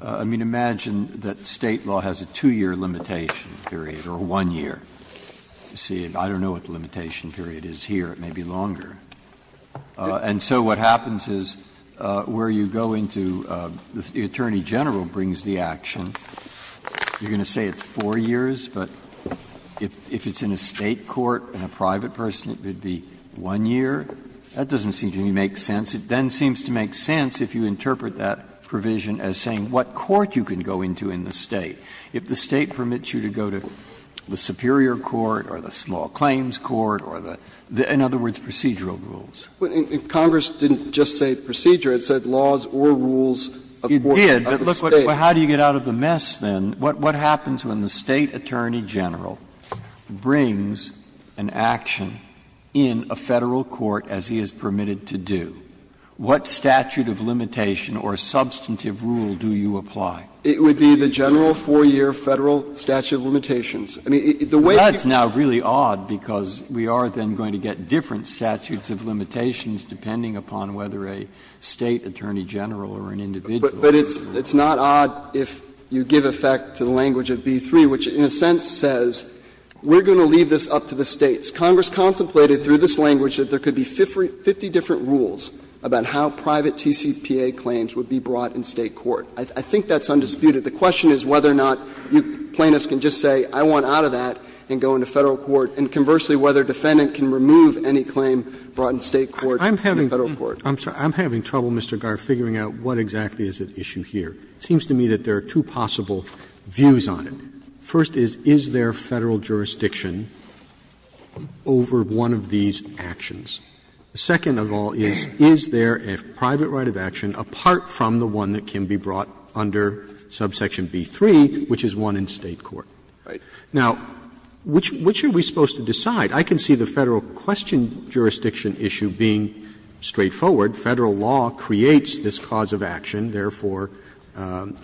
I mean, imagine that State law has a 2-year limitation period, or a 1-year. You see, I don't know what the limitation period is here. It may be longer. And so what happens is where you go into the Attorney General brings the action. You're going to say it's 4 years, but if it's in a State court and a private person it would be 1 year. That doesn't seem to make sense. It then seems to make sense if you interpret that provision as saying what court you can go into in the State. If the State permits you to go to the superior court or the small claims court or the other, in other words, procedural rules. If Congress didn't just say procedure, it said laws or rules of the State. It did, but how do you get out of the mess, then? What happens when the State Attorney General brings an action in a Federal court as he is permitted to do? What statute of limitation or substantive rule do you apply? It would be the general 4-year Federal statute of limitations. I mean, the way you do it is that's not really odd, because we are then going to get different statutes of limitations depending upon whether a State Attorney General or an individual. But it's not odd if you give effect to the language of B-3, which in a sense says we are going to leave this up to the States. Congress contemplated through this language that there could be 50 different rules about how private TCPA claims would be brought in State court. I think that's undisputed. The question is whether or not plaintiffs can just say I want out of that and go into Federal court, and conversely whether a defendant can remove any claim brought in State court in Federal court. Roberts I'm having trouble, Mr. Garre, figuring out what exactly is at issue here. It seems to me that there are two possible views on it. First is, is there Federal jurisdiction over one of these actions? The second of all is, is there a private right of action apart from the one that can be brought under subsection B-3, which is one in State court? Now, which are we supposed to decide? I can see the Federal question jurisdiction issue being straightforward. Federal law creates this cause of action. Therefore,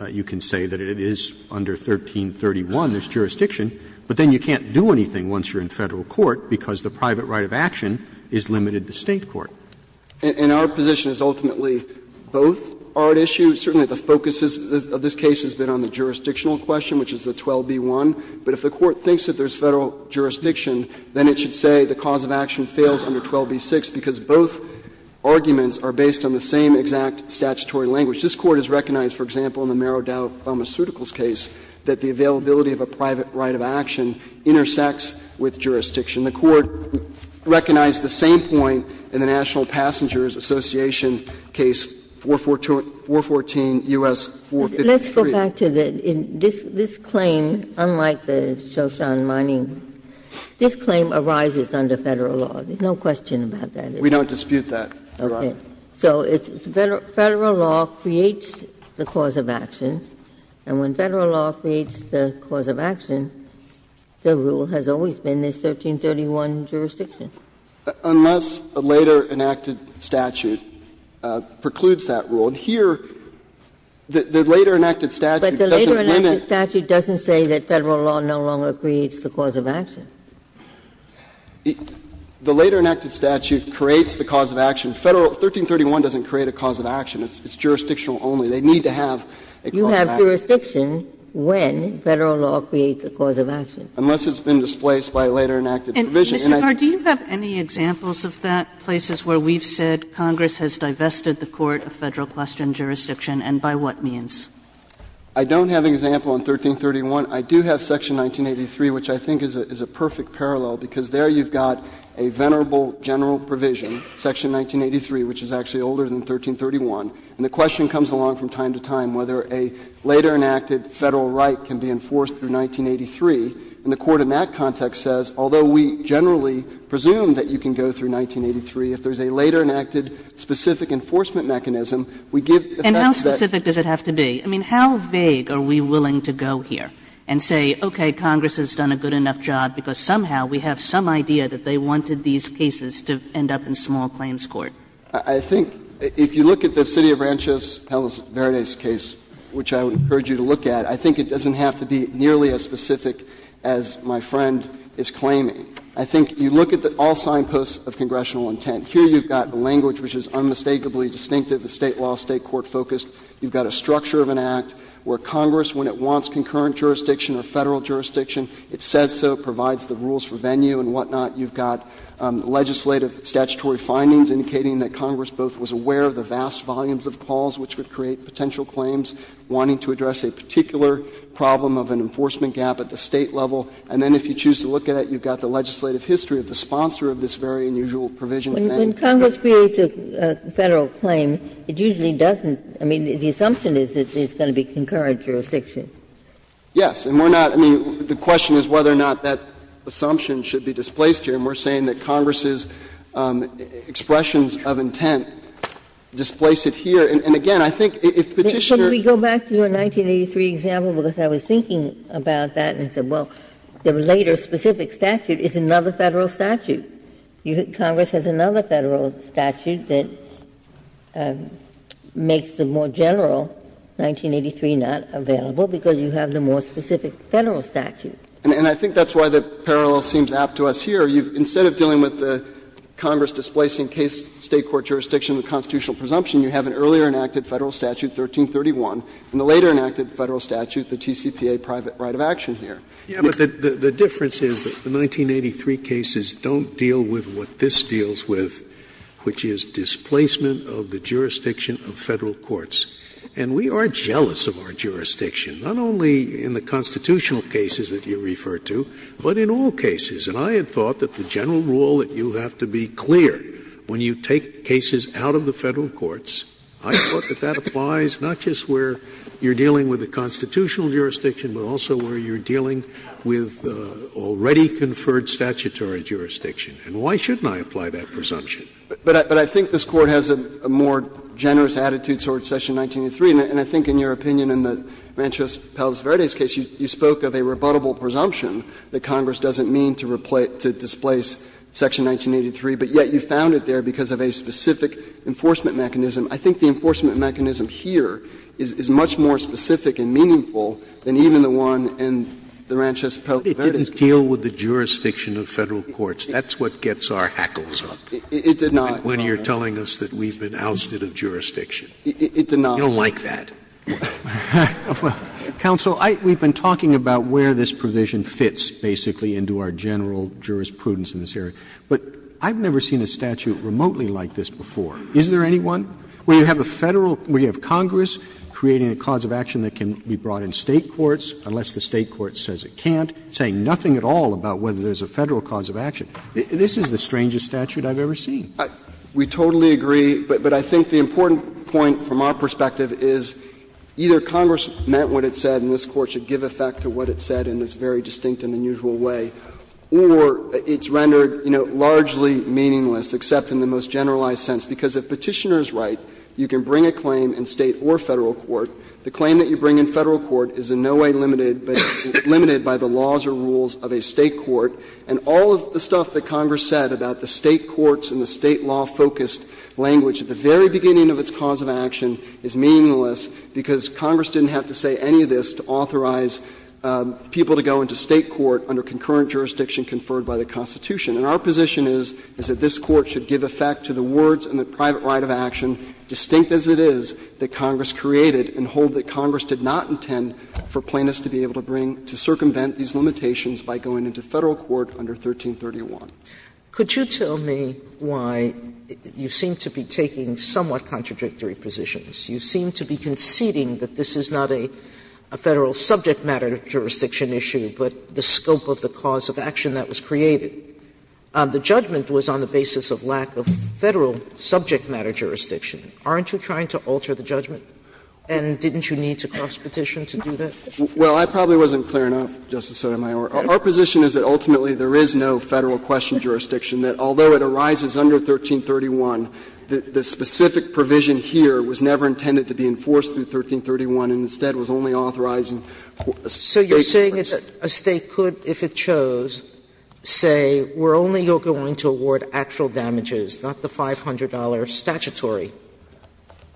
you can say that it is under 1331, this jurisdiction. But then you can't do anything once you're in Federal court because the private right of action is limited to State court. Garre, and our position is ultimately both are at issue. Certainly the focus of this case has been on the jurisdictional question, which is the 12b-1. But if the Court thinks that there is Federal jurisdiction, then it should say the cause of action fails under 12b-6 because both arguments are based on the same exact statutory language. This Court has recognized, for example, in the Merodau Pharmaceuticals case that the availability of a private right of action intersects with jurisdiction. The Court recognized the same point in the National Passengers Association case 414 U.S. 453. But let me go back to the this claim, unlike the Shoshan mining, this claim arises under Federal law. There's no question about that. We don't dispute that. Okay. So it's Federal law creates the cause of action, and when Federal law creates the cause of action, the rule has always been this 1331 jurisdiction. Unless a later enacted statute precludes that rule. And here, the later enacted statute doesn't limit. Ginsburg. But the later enacted statute doesn't say that Federal law no longer creates the cause of action. The later enacted statute creates the cause of action. Federal 1331 doesn't create a cause of action. It's jurisdictional only. They need to have a cause of action. You have jurisdiction when Federal law creates a cause of action. Unless it's been displaced by a later enacted provision. And I think that's what we're trying to do. And, Mr. Garre, do you have any examples of that, places where we've said Congress has divested the Court of Federal Question Jurisdiction, and by what means? Garre, I don't have an example on 1331. I do have Section 1983, which I think is a perfect parallel, because there you've got a venerable general provision, Section 1983, which is actually older than 1331. And the question comes along from time to time whether a later enacted Federal right can be enforced through 1983. And the Court in that context says, although we generally presume that you can go through 1983, if there's a later enacted specific enforcement mechanism, we give the facts that you can't. And how specific does it have to be? I mean, how vague are we willing to go here and say, okay, Congress has done a good enough job because somehow we have some idea that they wanted these cases to end up in small claims court? I think if you look at the city of Rancho Verde's case, which I would encourage you to look at, I think it doesn't have to be nearly as specific as my friend is claiming. I think you look at the all-signed posts of congressional intent. Here you've got the language, which is unmistakably distinctive, the State law, State court focused. You've got a structure of an act where Congress, when it wants concurrent jurisdiction or Federal jurisdiction, it says so, it provides the rules for venue and whatnot. You've got legislative statutory findings indicating that Congress both was aware of the vast volumes of calls which would create potential claims, wanting to address a particular problem of an enforcement gap at the State level. And then if you choose to look at it, you've got the legislative history of the sponsor of this very unusual provision. Ginsburg. When Congress creates a Federal claim, it usually doesn't – I mean, the assumption is that it's going to be concurrent jurisdiction. Yes. And we're not – I mean, the question is whether or not that assumption should be displaced here. And we're saying that Congress's expressions of intent displace it here. And again, I think if Petitioner – Can we go back to your 1983 example, because I was thinking about that and said, well, the later specific statute is another Federal statute. Congress has another Federal statute that makes the more general 1983 not available, because you have the more specific Federal statute. And I think that's why the parallel seems apt to us here. Instead of dealing with Congress displacing case State court jurisdiction with constitutional presumption, you have an earlier enacted Federal statute, 1331, and the later enacted Federal statute, the TCPA private right of action here. Yeah, but the difference is that the 1983 cases don't deal with what this deals with, which is displacement of the jurisdiction of Federal courts. And we are jealous of our jurisdiction, not only in the constitutional cases that you refer to, but in all cases. And I had thought that the general rule that you have to be clear when you take cases out of the Federal courts, I thought that that applies not just where you're dealing with the constitutional jurisdiction, but also where you're dealing with already conferred statutory jurisdiction. And why shouldn't I apply that presumption? But I think this Court has a more generous attitude towards section 1983. And I think, in your opinion, in the Ranchos Palos Verdes case, you spoke of a rebuttable presumption that Congress doesn't mean to displace section 1983, but yet you found it there because of a specific enforcement mechanism. I think the enforcement mechanism here is much more specific and meaningful than even the one in the Ranchos Palos Verdes case. Scalia, it didn't deal with the jurisdiction of Federal courts. That's what gets our hackles up. It did not. When you're telling us that we've been ousted of jurisdiction. It did not. You don't like that. Roberts, counsel, we've been talking about where this provision fits, basically, into our general jurisprudence in this area. But I've never seen a statute remotely like this before. Is there anyone? Where you have a Federal or you have Congress creating a cause of action that can be brought in State courts, unless the State court says it can't, saying nothing at all about whether there's a Federal cause of action. This is the strangest statute I've ever seen. We totally agree, but I think the important point from our perspective is either Congress meant what it said and this Court should give effect to what it said in this very distinct and unusual way, or it's rendered, you know, largely meaningless, except in the most generalized sense. Because if Petitioner is right, you can bring a claim in State or Federal court. The claim that you bring in Federal court is in no way limited by the laws or rules of a State court. And all of the stuff that Congress said about the State courts and the State law-focused language at the very beginning of its cause of action is meaningless, because Congress didn't have to say any of this to authorize people to go into State court under concurrent jurisdiction conferred by the Constitution. And our position is, is that this Court should give effect to the words and the private right of action, distinct as it is, that Congress created and hold that Congress did not intend for plaintiffs to be able to bring to circumvent these limitations by going into Federal court under 1331. Sotomayor, could you tell me why you seem to be taking somewhat contradictory positions? You seem to be conceding that this is not a Federal subject matter jurisdiction issue, but the scope of the cause of action that was created. The judgment was on the basis of lack of Federal subject matter jurisdiction. Aren't you trying to alter the judgment? And didn't you need to cross-petition to do that? Well, I probably wasn't clear enough, Justice Sotomayor. Our position is that ultimately there is no Federal question jurisdiction, that although it arises under 1331, the specific provision here was never intended to be enforced through 1331 and instead was only authorized in State jurisdiction. So you're saying that a State could, if it chose, say, we're only going to award actual damages, not the $500 statutory.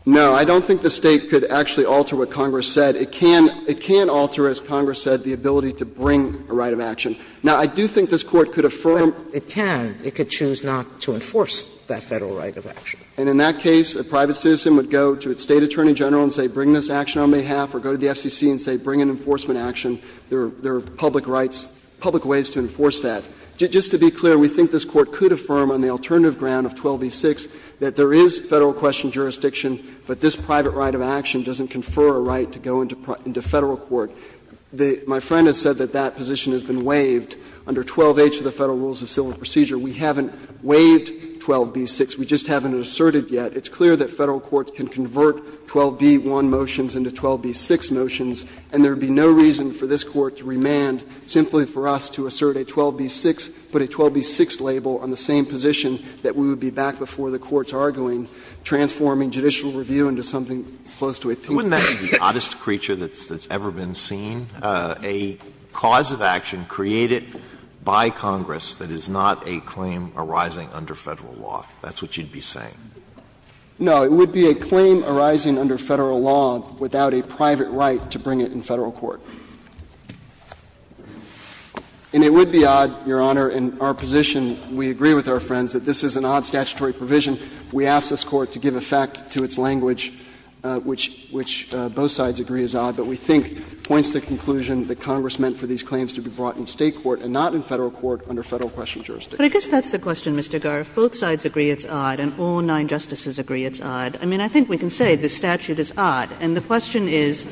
No, I don't think the State could actually alter what Congress said. It can alter, as Congress said, the ability to bring a right of action. Now, I do think this Court could affirm. But it can. It could choose not to enforce that Federal right of action. And in that case, a private citizen would go to a State attorney general and say, bring this action on my behalf, or go to the FCC and say, bring an enforcement action, there are public rights, public ways to enforce that. Just to be clear, we think this Court could affirm on the alternative ground of 12b-6 that there is Federal question jurisdiction, but this private right of action doesn't confer a right to go into Federal court. My friend has said that that position has been waived under 12h of the Federal Rules of Civil Procedure. We haven't waived 12b-6. We just haven't asserted yet. It's clear that Federal courts can convert 12b-1 motions into 12b-6 motions, and there would be no reason for this Court to remand simply for us to assert a 12b-6, put a 12b-6 label on the same position that we would be back before the courts arguing, transforming judicial review into something close to a pink page. Alitoso, wouldn't that be the oddest creature that's ever been seen, a cause of action created by Congress that is not a claim arising under Federal law? That's what you'd be saying. No. It would be a claim arising under Federal law without a private right to bring it in Federal court. And it would be odd, Your Honor, in our position, we agree with our friends, that this is an odd statutory provision. We ask this Court to give effect to its language, which both sides agree is odd, but we think points to the conclusion that Congress meant for these claims to be brought in State court and not in Federal court under Federal question jurisdiction. But I guess that's the question, Mr. Garre. If both sides agree it's odd and all nine Justices agree it's odd, I mean, I think we can say the statute is odd, and the question is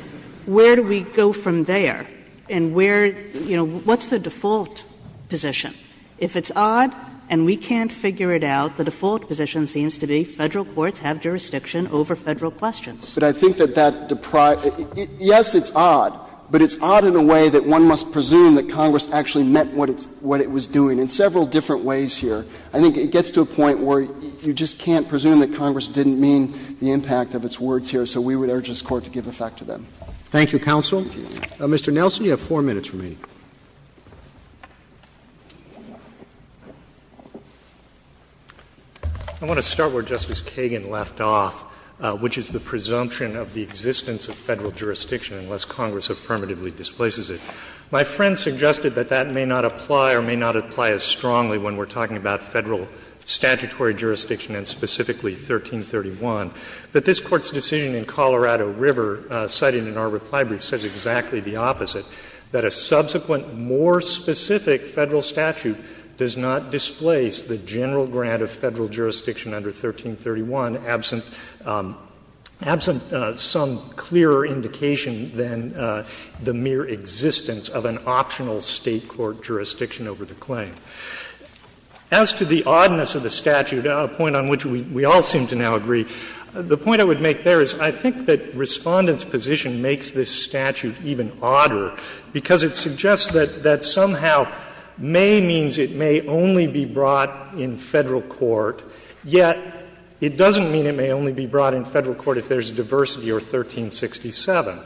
where do we go from there and where, you know, what's the default position? If it's odd and we can't figure it out, the default position seems to be Federal courts have jurisdiction over Federal questions. But I think that that deprives you of the right to bring it in State court, but I guess there are several different ways here. I think it gets to a point where you just can't presume that Congress didn't mean the impact of its words here, so we would urge this Court to give effect to them. Thank you, counsel. Mr. Nelson, you have 4 minutes remaining. I want to start where Justice Kagan left off, which is the presumption of the existence of Federal jurisdiction unless Congress affirmatively displaces it. My friend suggested that that may not apply or may not apply as strongly when we're talking about Federal statutory jurisdiction and specifically 1331, but this Court's decision in Colorado River, cited in our reply brief, says exactly the opposite, that a subsequent, more specific Federal statute does not displace the general grant of Federal jurisdiction under 1331, absent some clearer indication than the mere existence of an optional State court jurisdiction over the claim. As to the oddness of the statute, a point on which we all seem to now agree, the point I would make there is I think that Respondent's position makes this statute even odder, because it suggests that somehow may means it may only be brought in Federal court, yet it doesn't mean it may only be brought in Federal court if there's a diversity or 1367.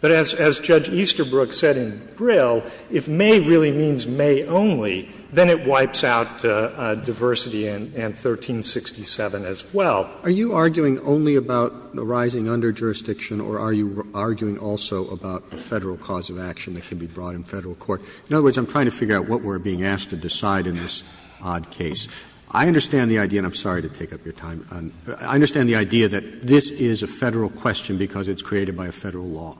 But as Judge Easterbrook said in Brill, if may really means may only, then it wipes out diversity and 1367 as well. Roberts. Are you arguing only about the rising underjurisdiction or are you arguing also about the Federal cause of action that can be brought in Federal court? In other words, I'm trying to figure out what we're being asked to decide in this odd case. I understand the idea, and I'm sorry to take up your time, I understand the idea that this is a Federal question because it's created by a Federal law.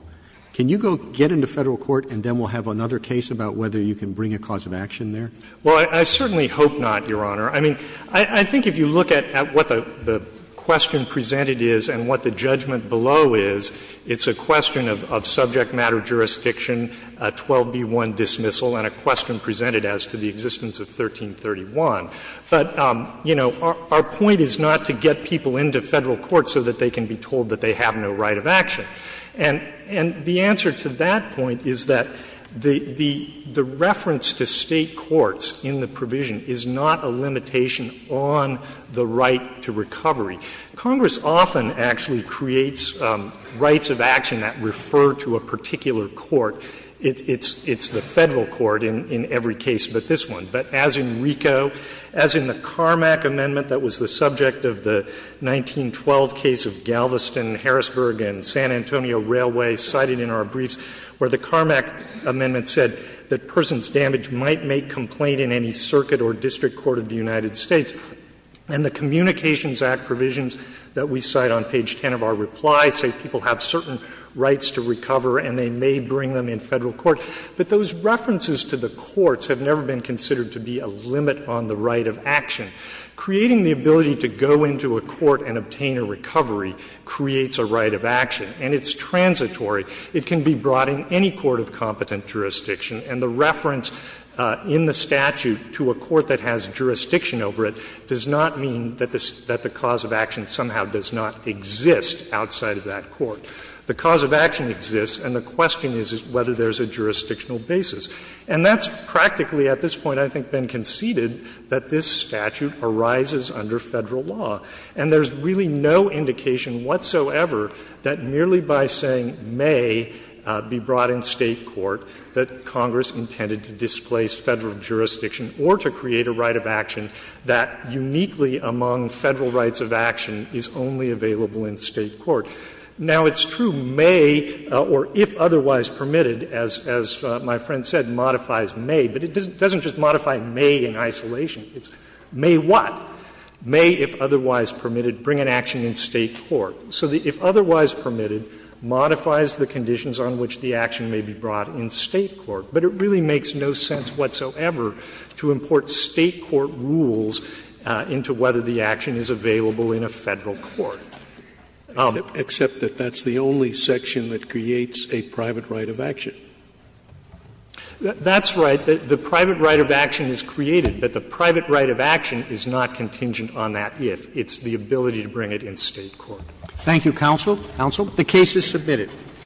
Can you go get into Federal court and then we'll have another case about whether you can bring a cause of action there? Well, I certainly hope not, Your Honor. I mean, I think if you look at what the question presented is and what the judgment below is, it's a question of subject matter jurisdiction, 12b1 dismissal, and a question presented as to the existence of 1331. But, you know, our point is not to get people into Federal court so that they can be told that they have no right of action. And the answer to that point is that the reference to State courts in the provision is not a limitation on the right to recovery. Congress often actually creates rights of action that refer to a particular court. It's the Federal court in every case but this one. But as in RICO, as in the Carmack Amendment that was the subject of the 1912 case of Galveston, Harrisburg, and San Antonio Railway cited in our briefs, where the Carmack Amendment said that persons damaged might make complaint in any circuit or district court of the United States. And the Communications Act provisions that we cite on page 10 of our reply say people have certain rights to recover and they may bring them in Federal court. But those references to the courts have never been considered to be a limit on the right of action. Creating the ability to go into a court and obtain a recovery creates a right of action and it's transitory. It can be brought in any court of competent jurisdiction and the reference in the statute to a court that has jurisdiction over it does not mean that the cause of action somehow does not exist outside of that court. The cause of action exists and the question is whether there's a jurisdictional basis. And that's practically at this point I think been conceded that this statute arises under Federal law. And there's really no indication whatsoever that merely by saying may be brought in State court that Congress intended to displace Federal jurisdiction or to create a right of action that uniquely among Federal rights of action is only available in State court. Now, it's true may or if otherwise permitted, as my friend said, modifies may, but it doesn't just modify may in isolation. It's may what? May, if otherwise permitted, bring an action in State court. So the if otherwise permitted modifies the conditions on which the action may be brought in State court. But it really makes no sense whatsoever to import State court rules into whether the action is available in a Federal court. Except that that's the only section that creates a private right of action. That's right. The private right of action is created, but the private right of action is not contingent on that if. It's the ability to bring it in State court. Roberts. Thank you, counsel. Counsel. The case is submitted.